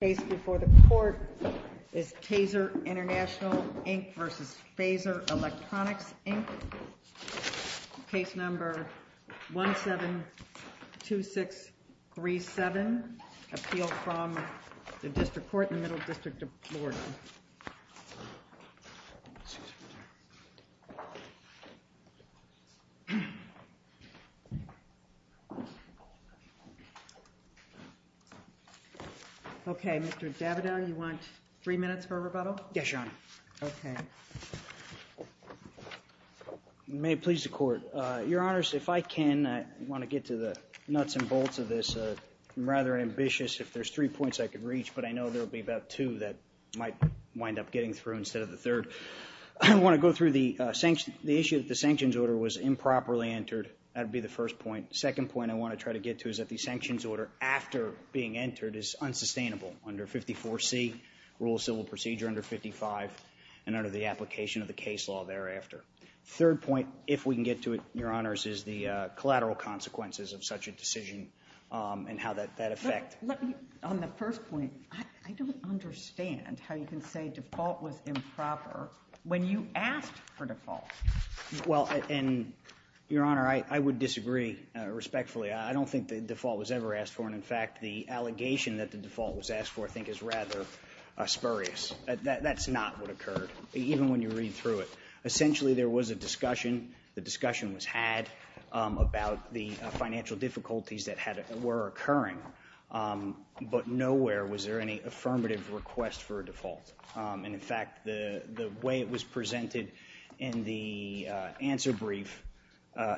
Case number 172637, Appeal from the District Court in the Middle District of Florida. May it please the Court, Your Honors, if I can, I want to get to the nuts and bolts of this. I'm rather ambitious. If there's three points I could reach, but I know there will be about two that might wind up getting through instead of the third. I want to go through the issue that the sanctions order was improperly entered. That would be the first point. Second point I want to try to get to is that the sanctions order after being entered is unsustainable under 54C, Rule of Civil Procedure under 55, and under the application of the case law thereafter. Third point, if we can get to it, Your Honors, is the collateral consequences of such a decision and how that affects. On the first point, I don't understand how you can say default was improper when you asked for default. Well, and Your Honor, I would disagree respectfully. I don't think the default was ever asked for, and in fact, the allegation that the default was asked for I think is rather spurious. That's not what occurred, even when you read through it. Essentially there was a discussion, the discussion was had, about the financial difficulties that were occurring, but nowhere was there any affirmative request for a default. And in fact, the way it was presented in the answer brief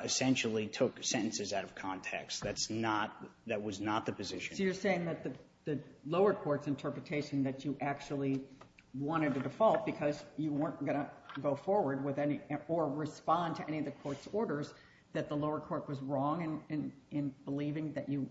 essentially took sentences out of context. That's not, that was not the position. So you're saying that the lower court's interpretation that you actually wanted a default because you weren't going to go forward with any, or respond to any of the court's orders, that the lower court was wrong in believing that you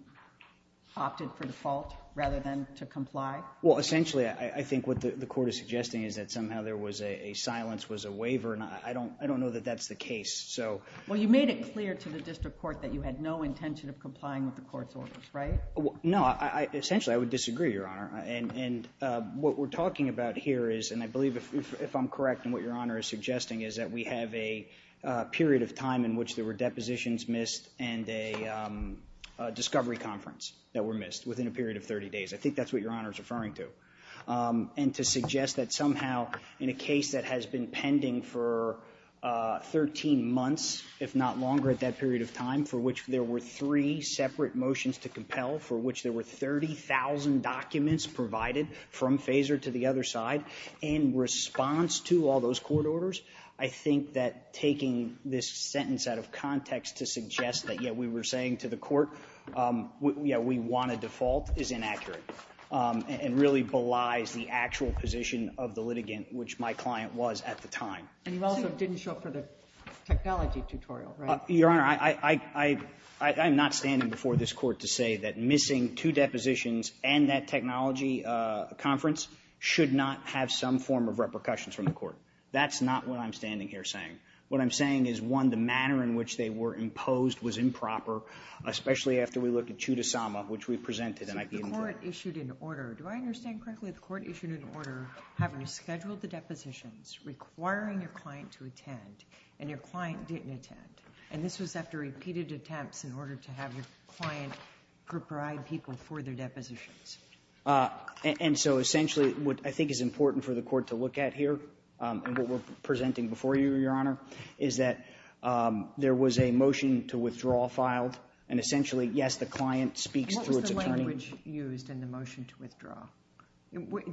opted for default rather than to comply? Well, essentially I think what the court is suggesting is that somehow there was a silence, was a waiver, and I don't know that that's the case. So... Well, you made it clear to the district court that you had no intention of complying with the court's orders, right? No. Essentially I would disagree, Your Honor, and what we're talking about here is, and I believe if I'm correct in what Your Honor is suggesting, is that we have a period of 30 days for depositions missed and a discovery conference that were missed within a period of 30 days. I think that's what Your Honor is referring to. And to suggest that somehow in a case that has been pending for 13 months, if not longer at that period of time, for which there were three separate motions to compel, for which there were 30,000 documents provided from FASER to the other side, in response to all of those court orders, I think that taking this sentence out of context to suggest that, yes, we were saying to the court, yes, we want a default, is inaccurate and really belies the actual position of the litigant, which my client was at the time. And you also didn't show up for the technology tutorial, right? Your Honor, I'm not standing before this Court to say that missing two depositions and that technology conference should not have some form of repercussions from the Court. That's not what I'm standing here saying. What I'm saying is, one, the manner in which they were imposed was improper, especially after we look at Chudasama, which we presented and I didn't. The Court issued an order. Do I understand correctly? The Court issued an order having scheduled the depositions, requiring your client to attend, and your client didn't attend. And this was after repeated attempts in order to have your client provide people for their depositions. And so, essentially, what I think is important for the Court to look at here, and what we're presenting before you, Your Honor, is that there was a motion to withdraw filed. And essentially, yes, the client speaks through its attorney. What was the language used in the motion to withdraw?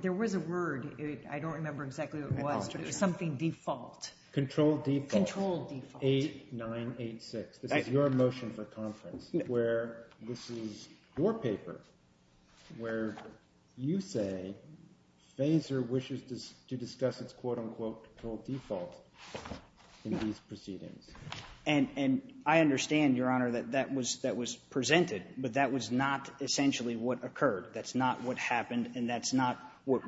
There was a word. I don't remember exactly what it was, but it was something default. Control default. Control default. 8986. This is your motion for conference, where this is your paper, where you say FASER wishes to discuss its quote, unquote, control default in these proceedings. And I understand, Your Honor, that that was presented, but that was not essentially what occurred. That's not what happened, and that's not what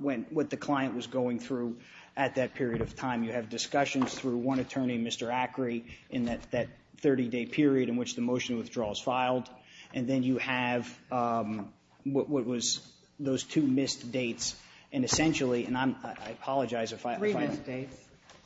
the client was going through at that period of time. You have discussions through one attorney, Mr. Acri, in that 30-day period in which the motion withdrawal is filed, and then you have what was those two missed dates. And essentially, and I'm — I apologize if I — Three missed dates.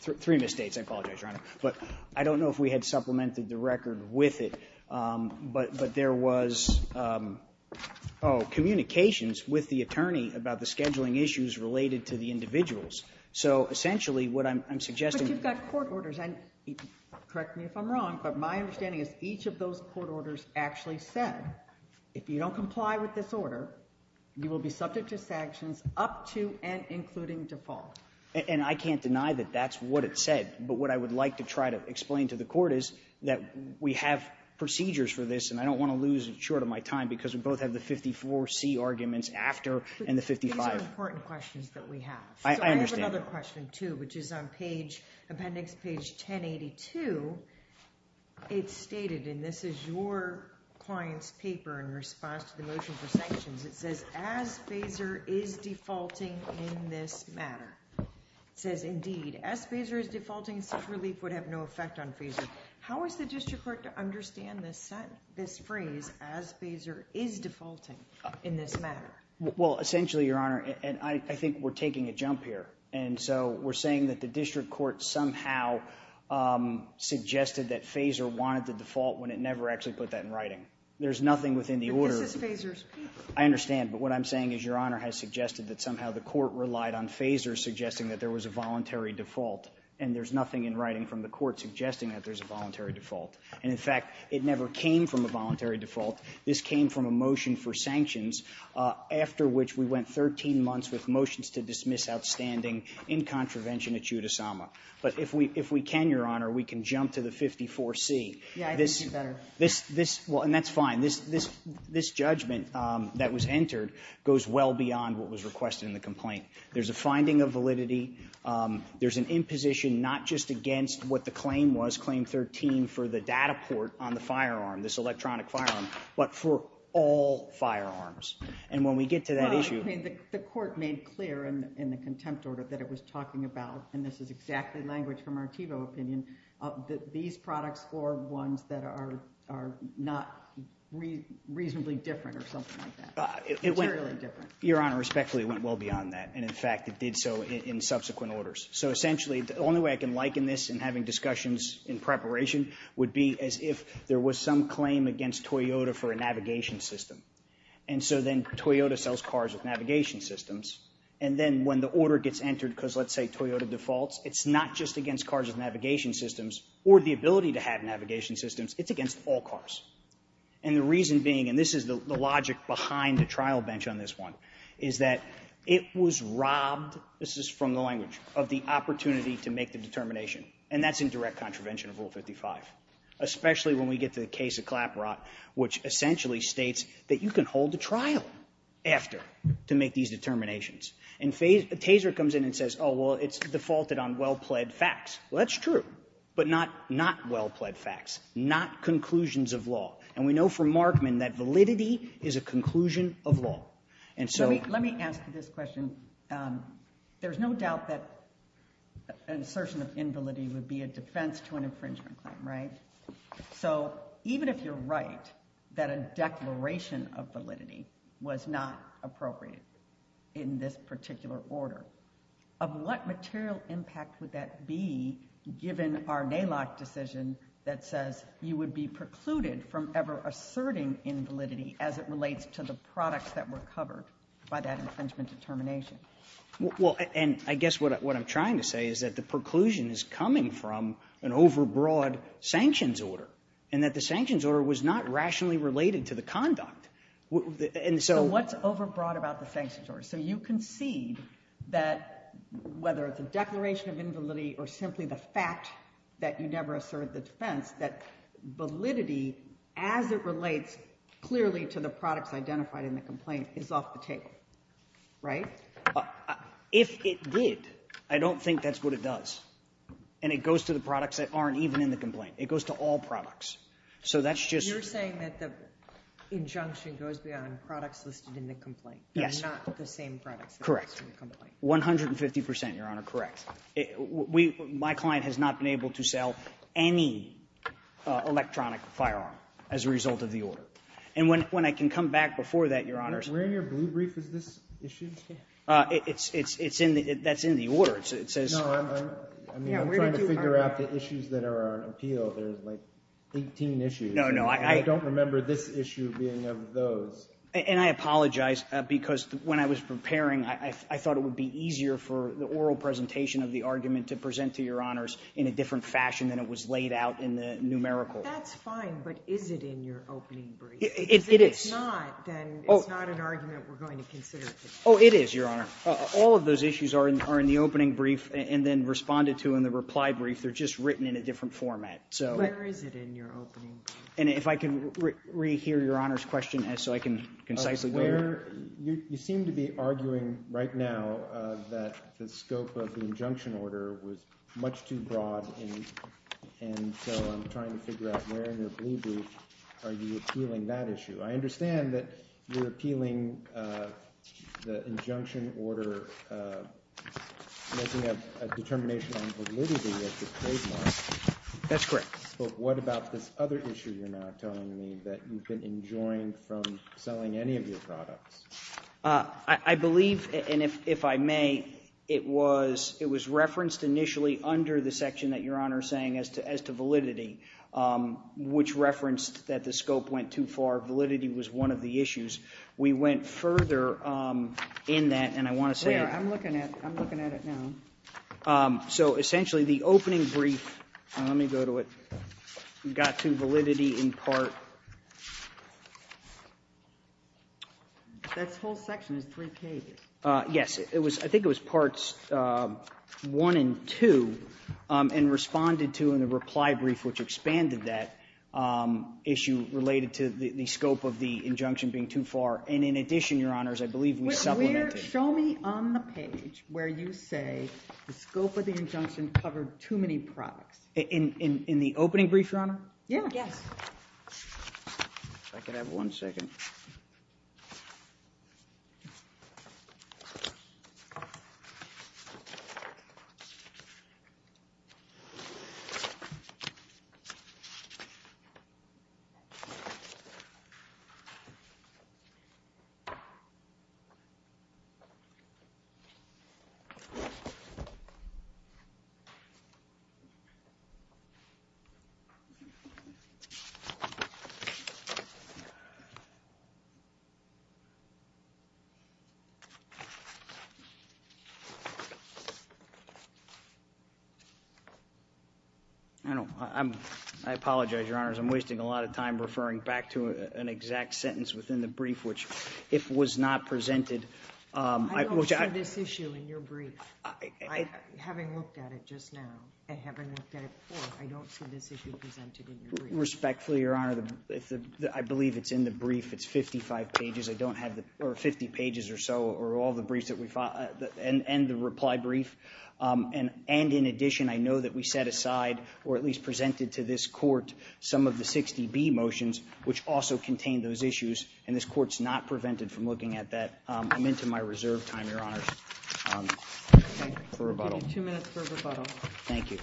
Three missed dates. I apologize, Your Honor. But I don't know if we had supplemented the record with it, but there was, oh, communications with the attorney about the scheduling issues related to the individuals. So, essentially, what I'm suggesting — But you've got court orders, and correct me if I'm wrong, but my understanding is each of those court orders actually said, if you don't comply with this order, you will be subject to sanctions up to and including default. And I can't deny that that's what it said, but what I would like to try to explain to the court is that we have procedures for this, and I don't want to lose short of my time because we both have the 54C arguments after and the 55. These are important questions that we have. I understand. So I have another question, too, which is on page — appendix page 1082. It's stated, and this is your client's paper in response to the motion for sanctions. It says, as FASER is defaulting in this matter. It says, indeed, as FASER is defaulting, such relief would have no effect on FASER. How is the district court to understand this phrase, as FASER is defaulting in this matter? Well, essentially, Your Honor, and I think we're taking a jump here. And so we're saying that the district court somehow suggested that FASER wanted the default when it never actually put that in writing. There's nothing within the order — But this is FASER's paper. I understand. But what I'm saying is Your Honor has suggested that somehow the court relied on FASER suggesting that there was a voluntary default, and there's nothing in writing from the court suggesting that there's a voluntary default. And, in fact, it never came from a voluntary default. This came from a motion for sanctions, after which we went 13 months with motions to dismiss outstanding in contravention at Judis Sama. But if we can, Your Honor, we can jump to the 54C. Yeah, I think it's better. Well, and that's fine. This judgment that was entered goes well beyond what was requested in the complaint. There's a finding of validity. There's an imposition not just against what the claim was, claim 13, for the data port on the firearm, this electronic firearm, but for all firearms. And when we get to that issue — Well, I mean, the court made clear in the contempt order that it was talking about — and this is exactly language from our TiVo opinion — that these products are ones that are not reasonably different or something like that. It went really different. Your Honor, respectfully, it went well beyond that. And, in fact, it did so in subsequent orders. So essentially, the only way I can liken this in having discussions in preparation would be as if there was some claim against Toyota for a navigation system. And so then Toyota sells cars with navigation systems. And then when the order gets entered because, let's say, Toyota defaults, it's not just against cars with navigation systems or the ability to have navigation systems. It's against all cars. And the reason being — and this is the logic behind the trial bench on this one — is that it was robbed — this is from the language — of the opportunity to make the determination. And that's in direct contravention of Rule 55, especially when we get to the case of Clapperot, which essentially states that you can hold the trial after to make these determinations. And Taser comes in and says, oh, well, it's defaulted on well-pled facts. Well, that's true, but not well-pled facts, not conclusions of law. And we know from Markman that validity is a conclusion of law. And so —— an assertion of invalidity would be a defense to an infringement claim, right? So even if you're right that a declaration of validity was not appropriate in this particular order, of what material impact would that be given our NALOC decision that says you would be precluded from ever asserting invalidity as it relates to the products that were covered by that infringement determination? Well, and I guess what I'm trying to say is that the preclusion is coming from an overbroad sanctions order, and that the sanctions order was not rationally related to the conduct. And so — So what's overbroad about the sanctions order? So you concede that whether it's a declaration of invalidity or simply the fact that you never asserted the defense, that validity as it relates clearly to the products identified in the complaint is off the table, right? If it did, I don't think that's what it does. And it goes to the products that aren't even in the complaint. It goes to all products. So that's just — You're saying that the injunction goes beyond products listed in the complaint? Yes. They're not the same products that are listed in the complaint? Correct. One hundred and fifty percent, Your Honor, correct. My client has not been able to sell any electronic firearm as a result of the order. And when I can come back before that, Your Honor — Where in your blue brief is this issued? It's in the — that's in the order. It says — No, I'm trying to figure out the issues that are on appeal. There's like 18 issues. No, no. I don't remember this issue being of those. And I apologize, because when I was preparing, I thought it would be easier for the oral presentation of the argument to present to Your Honors in a different fashion than it was laid out in the numerical. That's fine. But is it in your opening brief? It is. If it's not, then it's not an argument we're going to consider today. Oh, it is, Your Honor. All of those issues are in the opening brief and then responded to in the reply brief. They're just written in a different format. So — Where is it in your opening brief? And if I can re-hear Your Honor's question so I can concisely go — Where — you seem to be arguing right now that the scope of the injunction order was much too broad, and so I'm trying to figure out where in your blue brief are you appealing that issue. I understand that you're appealing the injunction order making a determination on validity as the trademark. That's correct. But what about this other issue you're now telling me that you've been enjoying from selling any of your products? I believe, and if I may, it was referenced initially under the section that Your Honor is saying as to validity, which referenced that the scope went too far. Validity was one of the issues. We went further in that, and I want to say — There. I'm looking at it now. So essentially, the opening brief — let me go to it — we got to validity in part — That whole section is 3K, isn't it? Yes. I think it was parts 1 and 2, and responded to in the reply brief, which expanded that issue related to the scope of the injunction being too far, and in addition, Your Honors, I believe we supplemented — Show me on the page where you say the scope of the injunction covered too many products. In the opening brief, Your Honor? Yeah. Yes. If I could have one second. I don't — I apologize, Your Honors, I'm wasting a lot of time referring back to an exact sentence within the brief, which if was not presented — I don't see this issue in your brief, having looked at it just now, and having looked at it before. I don't see this issue presented in your brief. Respectfully, Your Honor, I believe it's in the brief. It's 55 pages. I don't have the — or 50 pages or so, or all the briefs that we — and the reply brief. And in addition, I know that we set aside, or at least presented to this Court, some of the 60B motions, which also contain those issues, and this Court's not prevented from looking at that. I'm into my reserve time, Your Honors. For rebuttal. We'll give you two minutes for rebuttal. Thank you.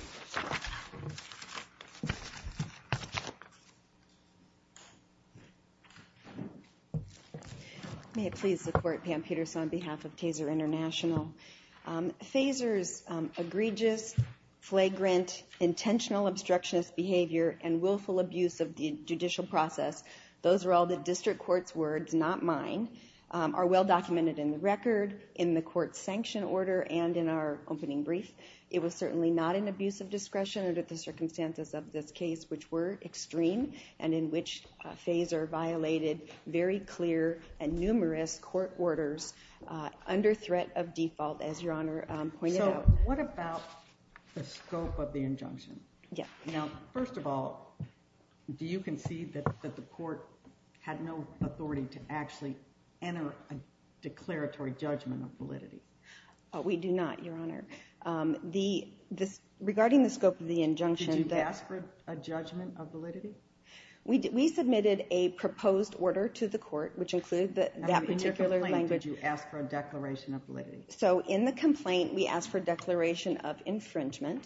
May it please the Court, Pam Peterson, on behalf of Taser International. Fazer's egregious, flagrant, intentional obstructionist behavior and willful abuse of the judicial process — those are all the District Court's words, not mine — are well documented in the record, in the Court's sanction order, and in our opening brief. It was certainly not an abuse of discretion under the circumstances of this case, which were extreme, and in which Fazer violated very clear and numerous court orders under threat of default, as Your Honor pointed out. So, what about the scope of the injunction? Yeah. Now, first of all, do you concede that the Court had no authority to actually enter a declaratory judgment of validity? We do not, Your Honor. Regarding the scope of the injunction — Did you ask for a judgment of validity? We submitted a proposed order to the Court, which included that particular language — In your complaint, did you ask for a declaration of validity? So in the complaint, we asked for a declaration of infringement,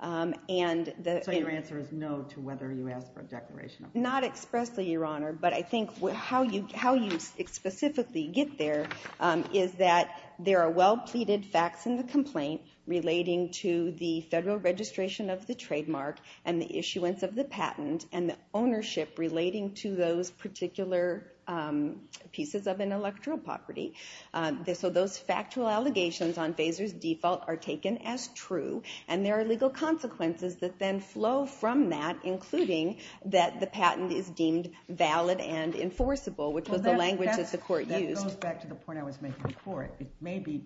and — So your answer is no to whether you asked for a declaration of validity? Not expressly, Your Honor, but I think how you specifically get there is that there are well-pleaded facts in the complaint relating to the federal registration of the trademark and the issuance of the patent, and the ownership relating to those particular pieces of intellectual property. So those factual allegations on Fazer's default are taken as true, and there are legal consequences that then flow from that, including that the patent is deemed valid and enforceable, which was the language that the Court used. That goes back to the point I was making before. It may be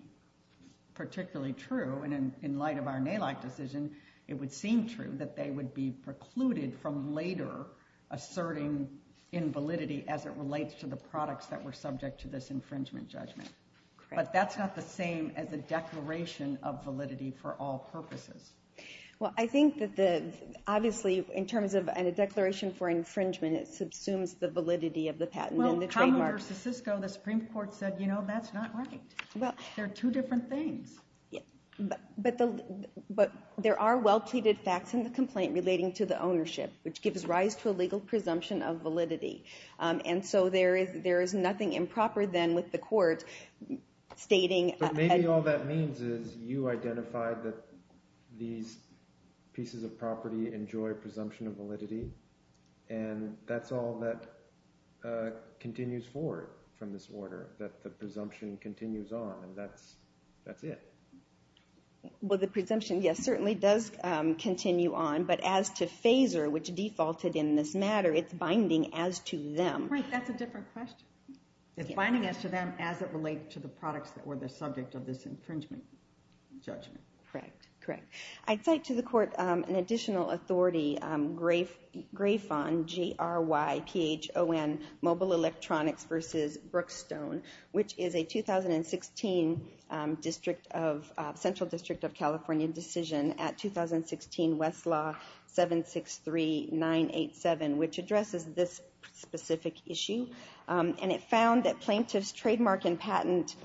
particularly true, and in light of our NALAC decision, it would seem true that they would be precluded from later asserting invalidity as it relates to the products that were subject to this infringement judgment. But that's not the same as a declaration of validity for all purposes. Well, I think that the — obviously, in terms of a declaration for infringement, it subsumes the validity of the patent and the trademark. Well, Common versus Cisco, the Supreme Court said, you know, that's not right. They're two different things. But there are well-pleaded facts in the complaint relating to the ownership, which gives rise to a legal presumption of validity. And so there is nothing improper then with the Court stating — these pieces of property enjoy presumption of validity, and that's all that continues forward from this order, that the presumption continues on, and that's it. Well, the presumption, yes, certainly does continue on. But as to FASER, which defaulted in this matter, it's binding as to them. Right. That's a different question. It's binding as to them as it relates to the products that were the subject of this infringement judgment. Correct. Correct. I'd cite to the Court an additional authority, Grayfond, G-R-Y-P-H-O-N, Mobile Electronics versus Brookstone, which is a 2016 Central District of California decision at 2016 Westlaw 763987, which addresses this specific issue. And it found that plaintiff's trademark and patent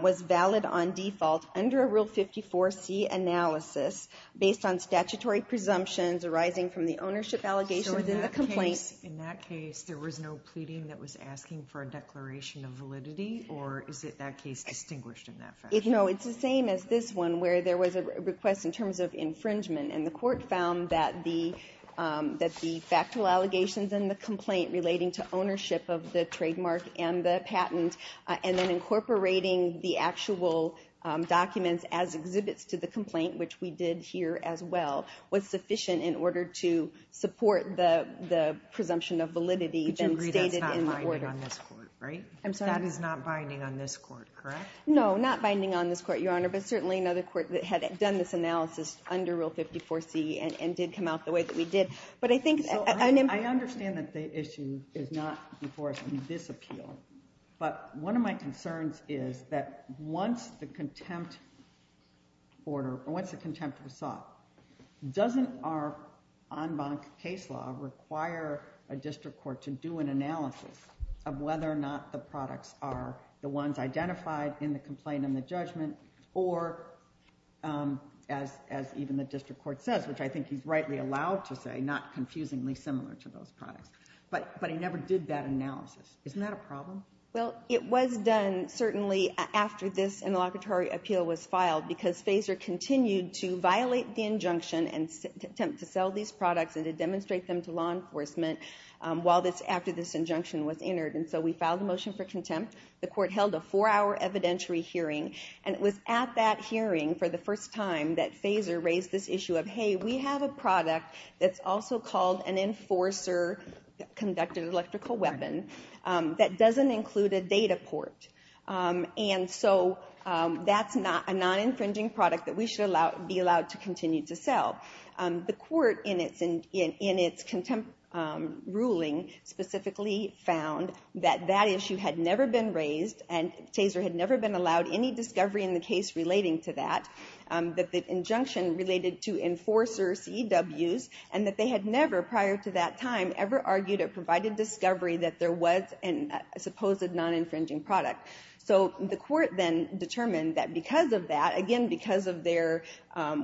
was valid on default under a Rule 54C analysis based on statutory presumptions arising from the ownership allegations in the complaint. So in that case, there was no pleading that was asking for a declaration of validity, or is it that case distinguished in that fashion? No, it's the same as this one, where there was a request in terms of infringement, and the Court found that the factual allegations in the complaint relating to ownership of the trademark and the patent, and then incorporating the actual documents as exhibits to the complaint, which we did here as well, was sufficient in order to support the presumption of validity then stated in the order. But you agree that's not binding on this Court, right? I'm sorry? That is not binding on this Court, correct? No, not binding on this Court, Your Honor, but certainly another Court that had done this analysis under Rule 54C and did come out the way that we did. I understand that the issue is not before us in this appeal, but one of my concerns is that once the contempt was sought, doesn't our en banc case law require a district court to do an analysis of whether or not the products are the ones identified in the complaint and in the judgment, or as even the district court says, which I think he's rightly allowed to say, not confusingly similar to those products. But he never did that analysis. Isn't that a problem? Well, it was done, certainly, after this interlocutory appeal was filed, because FASER continued to violate the injunction and attempt to sell these products and to demonstrate them to law enforcement after this injunction was entered. And so we filed a motion for contempt. The Court held a four-hour evidentiary hearing, and it was at that hearing for the first time that FASER raised this issue of, hey, we have a product that's also called an enforcer-conducted electrical weapon that doesn't include a data port. And so that's a non-infringing product that we should be allowed to continue to sell. The Court, in its ruling, specifically found that that issue had never been raised, and FASER had never been allowed any discovery in the case relating to that, that the injunction related to enforcers' EWs, and that they had never, prior to that time, ever argued or provided discovery that there was a supposed non-infringing product. So the Court then determined that because of that, again, because of their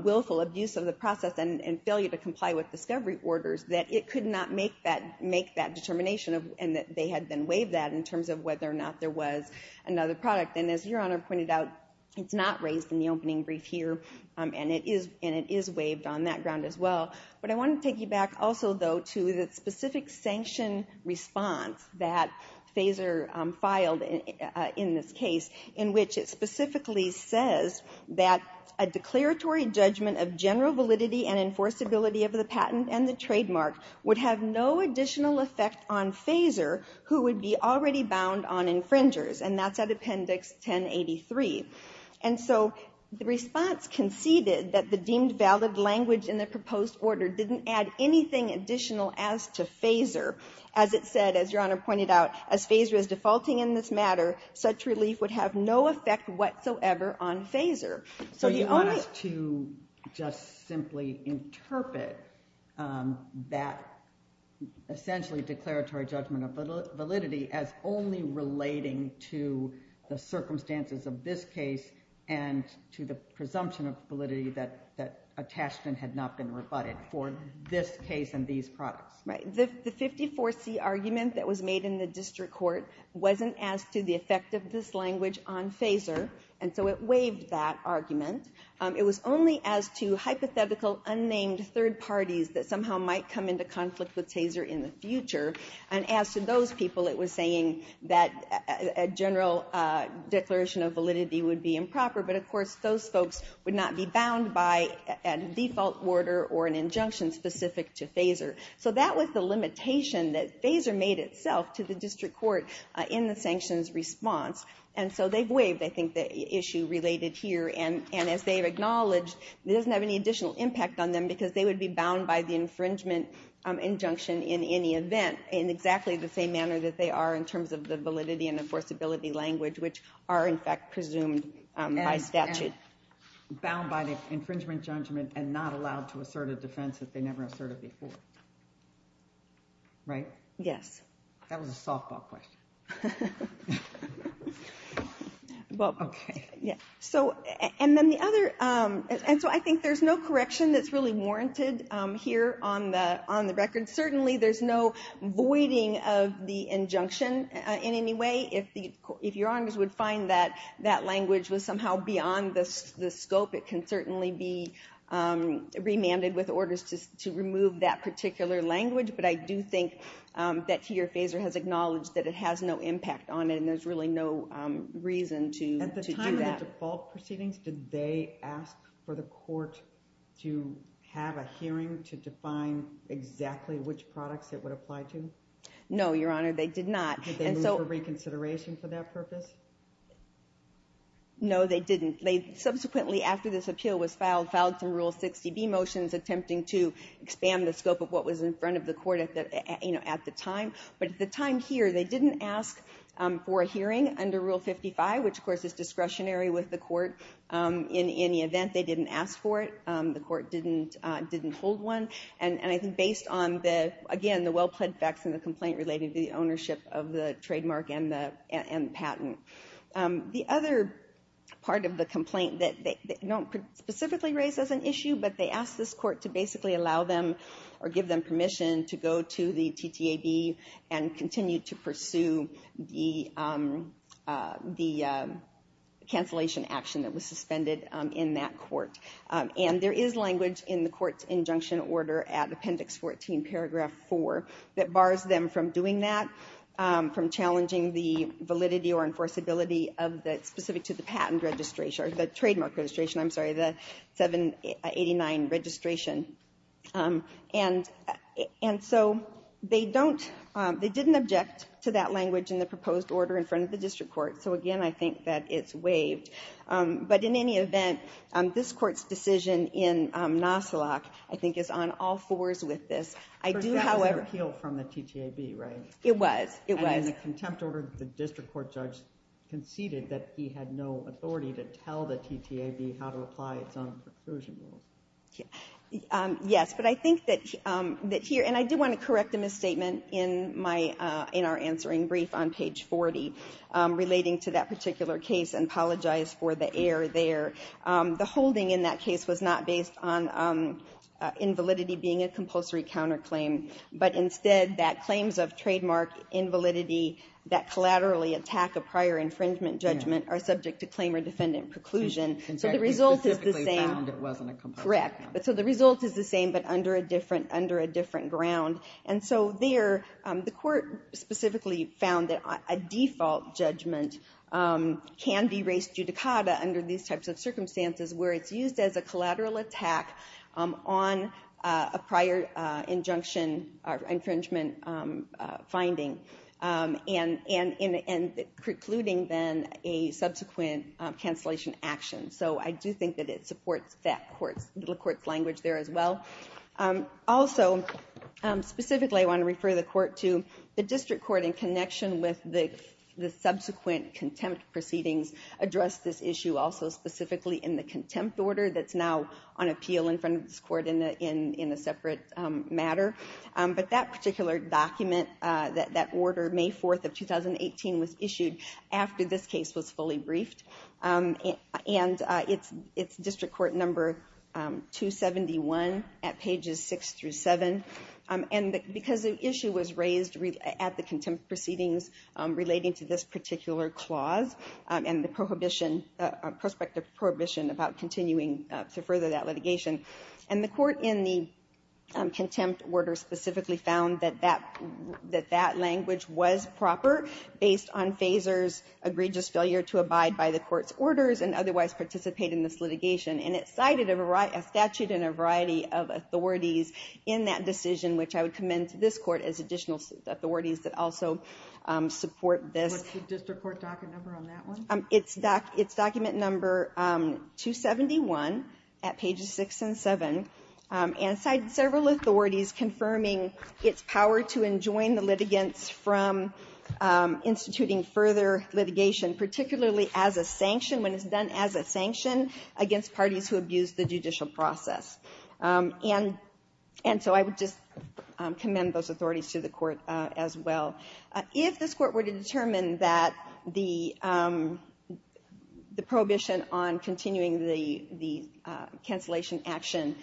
willful abuse of the process and failure to comply with discovery orders, that it could not make that determination, and that they had then waived that in terms of whether or not there was another product. And as Your Honor pointed out, it's not raised in the opening brief here, and it is waived on that ground as well. But I want to take you back also, though, to the specific sanction response that FASER filed in this case, in which it specifically says that a declaratory judgment of general validity and enforceability of the patent and the trademark would have no additional effect on FASER, who would be already bound on infringers. And that's at Appendix 1083. And so the response conceded that the deemed valid language in the proposed order didn't add anything additional as to FASER. As it said, as Your Honor pointed out, as FASER is defaulting in this matter, such relief would have no effect whatsoever on FASER. So the only— So you want us to just simply interpret that essentially declaratory judgment of validity as only relating to the circumstances of this case and to the presumption of validity that attached and had not been rebutted for this case and these products? Right. The 54C argument that was made in the district court wasn't as to the effect of this language on FASER. And so it waived that argument. It was only as to hypothetical unnamed third parties that somehow might come into conflict with TASER in the future. And as to those people, it was saying that a general declaration of validity would be improper. But of course, those folks would not be bound by a default order or an injunction specific to FASER. So that was the limitation that FASER made itself to the district court in the sanctions response. And so they've waived, I think, the issue related here. And as they've acknowledged, it doesn't have any additional impact on them because they would be bound by the infringement injunction in any event in exactly the same manner that they are in terms of the validity and enforceability language, which are, in fact, presumed by statute. And bound by the infringement judgment and not allowed to assert a defense that they never asserted before. Right? Yes. That was a softball question. Well, OK. Yeah. So and then the other, and so I think there's no correction that's really warranted here on the record. Certainly, there's no voiding of the injunction in any way. If your honors would find that that language was somehow beyond the scope, it can certainly be remanded with orders to remove that particular language. But I do think that here, FASER has acknowledged that it has no impact on it, and there's really no reason to do that. At the time of the default proceedings, did they ask for the court to have a hearing to define exactly which products it would apply to? No, your honor. They did not. Did they move for reconsideration for that purpose? No, they didn't. They subsequently, after this appeal was filed, filed some Rule 60B motions attempting to expand the scope of what was in front of the court at the time. But at the time here, they didn't ask for a hearing under Rule 55, which of course is discretionary with the court. In any event, they didn't ask for it. The court didn't hold one. And I think based on, again, the well-plaid facts in the complaint relating to the ownership of the trademark and patent. The other part of the complaint that they don't specifically raise as an issue, but they asked this court to basically allow them or give them permission to go to the TTAB and continue to pursue the cancellation action that was suspended in that court. And there is language in the court's injunction order at Appendix 14, Paragraph 4, that bars them from doing that, from challenging the validity or enforceability of that specific to the patent registration, or the trademark registration, I'm sorry, the 789 registration. And so they don't, they didn't object to that language in the proposed order in front of the district court. So again, I think that it's waived. But in any event, this court's decision in NASILAC, I think, is on all fours with this. I do, however... But that was an appeal from the TTAB, right? It was, it was. And in the contempt order, the district court judge conceded that he had no authority to tell the TTAB how to apply its own preclusion rules. Yes, but I think that here, and I do want to correct a misstatement in our answering brief on page 40, relating to that particular case, and apologize for the error there. The holding in that case was not based on invalidity being a compulsory counterclaim. But instead, that claims of trademark invalidity that collaterally attack a prior infringement judgment are subject to claim or defendant preclusion. So the result is the same. And technically, specifically found it wasn't a compulsory counterclaim. Correct. So the result is the same, but under a different ground. And so there, the court specifically found that a default judgment can be raised judicata under these types of circumstances where it's used as a collateral attack on a prior injunction or infringement finding, and precluding then a subsequent cancellation action. So I do think that it supports that court's, the court's language there as well. Also, specifically, I want to refer the court to the district court in connection with the issue also specifically in the contempt order that's now on appeal in front of this court in a separate matter. But that particular document, that order, May 4th of 2018, was issued after this case was fully briefed. And it's district court number 271 at pages 6 through 7. And because the issue was raised at the contempt proceedings relating to this particular clause and the prohibition, prospective prohibition about continuing to further that litigation. And the court in the contempt order specifically found that that language was proper based on Fazer's egregious failure to abide by the court's orders and otherwise participate in this litigation. And it cited a statute and a variety of authorities in that decision, which I would commend to this court as additional authorities that also support this. Is the district court document number on that one? It's document number 271 at pages 6 and 7. And it cited several authorities confirming its power to enjoin the litigants from instituting further litigation, particularly as a sanction, when it's done as a sanction against parties who abuse the judicial process. And so I would just commend those authorities to the court as well. If this court were to determine that the prohibition on continuing the cancellation action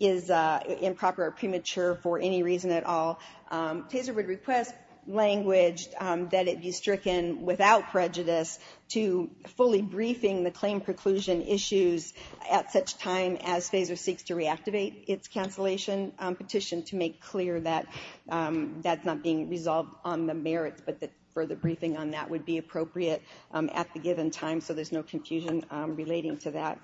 is improper or premature for any reason at all, Taser would request language that it be stricken without prejudice to fully briefing the claim preclusion issues at such time as Fazer seeks to reactivate its cancellation petition to make clear that that's not being resolved on the merits, but that further briefing on that would be appropriate at the given time so there's no confusion relating to that.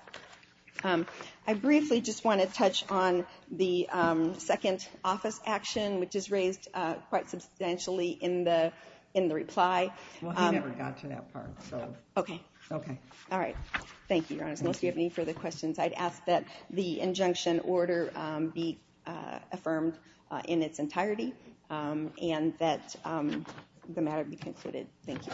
I briefly just want to touch on the second office action, which is raised quite substantially in the reply. Well, he never got to that part, so... Okay. Okay. All right. Thank you, Your Honor. Unless you have any further questions, I'd ask that the injunction order be affirmed in its entirety and that the matter be concluded. Thank you.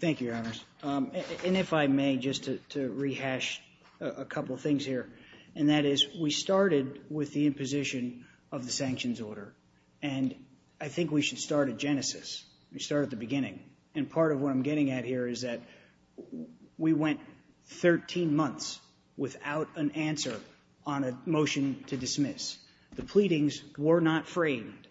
Thank you, Your Honors. And if I may, just to rehash a couple of things here, and that is we started with the imposition of the sanctions order, and I think we should start at genesis. We start at the beginning. And part of what I'm getting at here is that we went 13 months without an answer on a motion to dismiss. The pleadings were not framed.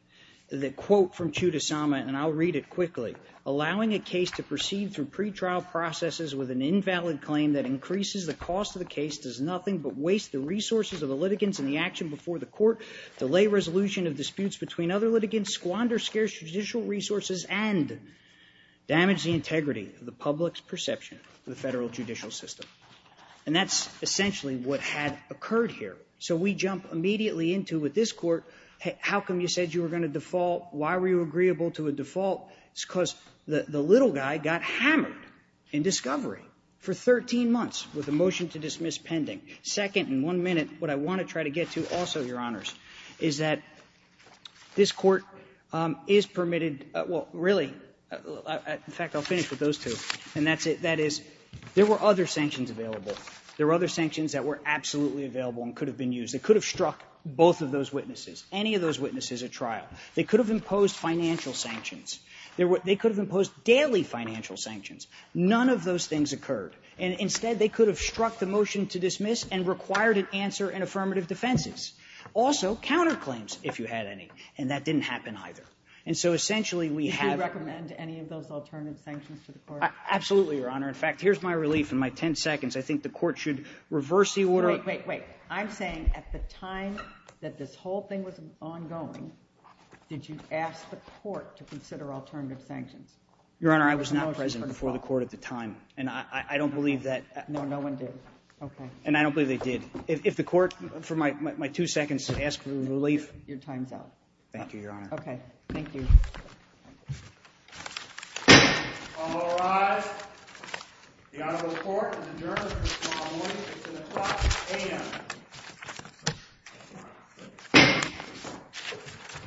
The quote from Chuda Sama, and I'll read it quickly. Allowing a case to proceed through pretrial processes with an invalid claim that increases the cost of the case does nothing but waste the resources of the litigants in the action before the court, delay resolution of disputes between other litigants, squander scarce judicial resources, and damage the integrity of the public's perception of the federal judicial system. And that's essentially what had occurred here. So we jump immediately into, with this Court, how come you said you were going to default? Why were you agreeable to a default? It's because the little guy got hammered in discovery for 13 months with a motion to dismiss pending. Second, in one minute, what I want to try to get to also, Your Honors, is that this Court permitted, well, really, in fact, I'll finish with those two, and that's it. That is, there were other sanctions available. There were other sanctions that were absolutely available and could have been used. They could have struck both of those witnesses, any of those witnesses at trial. They could have imposed financial sanctions. They could have imposed daily financial sanctions. None of those things occurred. And instead, they could have struck the motion to dismiss and required an answer in affirmative defenses. Also, counterclaims, if you had any. And that didn't happen either. And so, essentially, we have to recommend any of those alternative sanctions to the Court. Absolutely, Your Honor. In fact, here's my relief in my ten seconds. I think the Court should reverse the order. Wait, wait, wait. I'm saying at the time that this whole thing was ongoing, did you ask the Court to consider alternative sanctions? Your Honor, I was not present before the Court at the time. And I don't believe that. No, no one did. Okay. And I don't believe they did. If the Court, for my two seconds to ask for relief. Your time's up. Thank you, Your Honor. Okay. Thank you. All rise. The Honorable Court has adjourned for this morning. It's in the clock. A.M.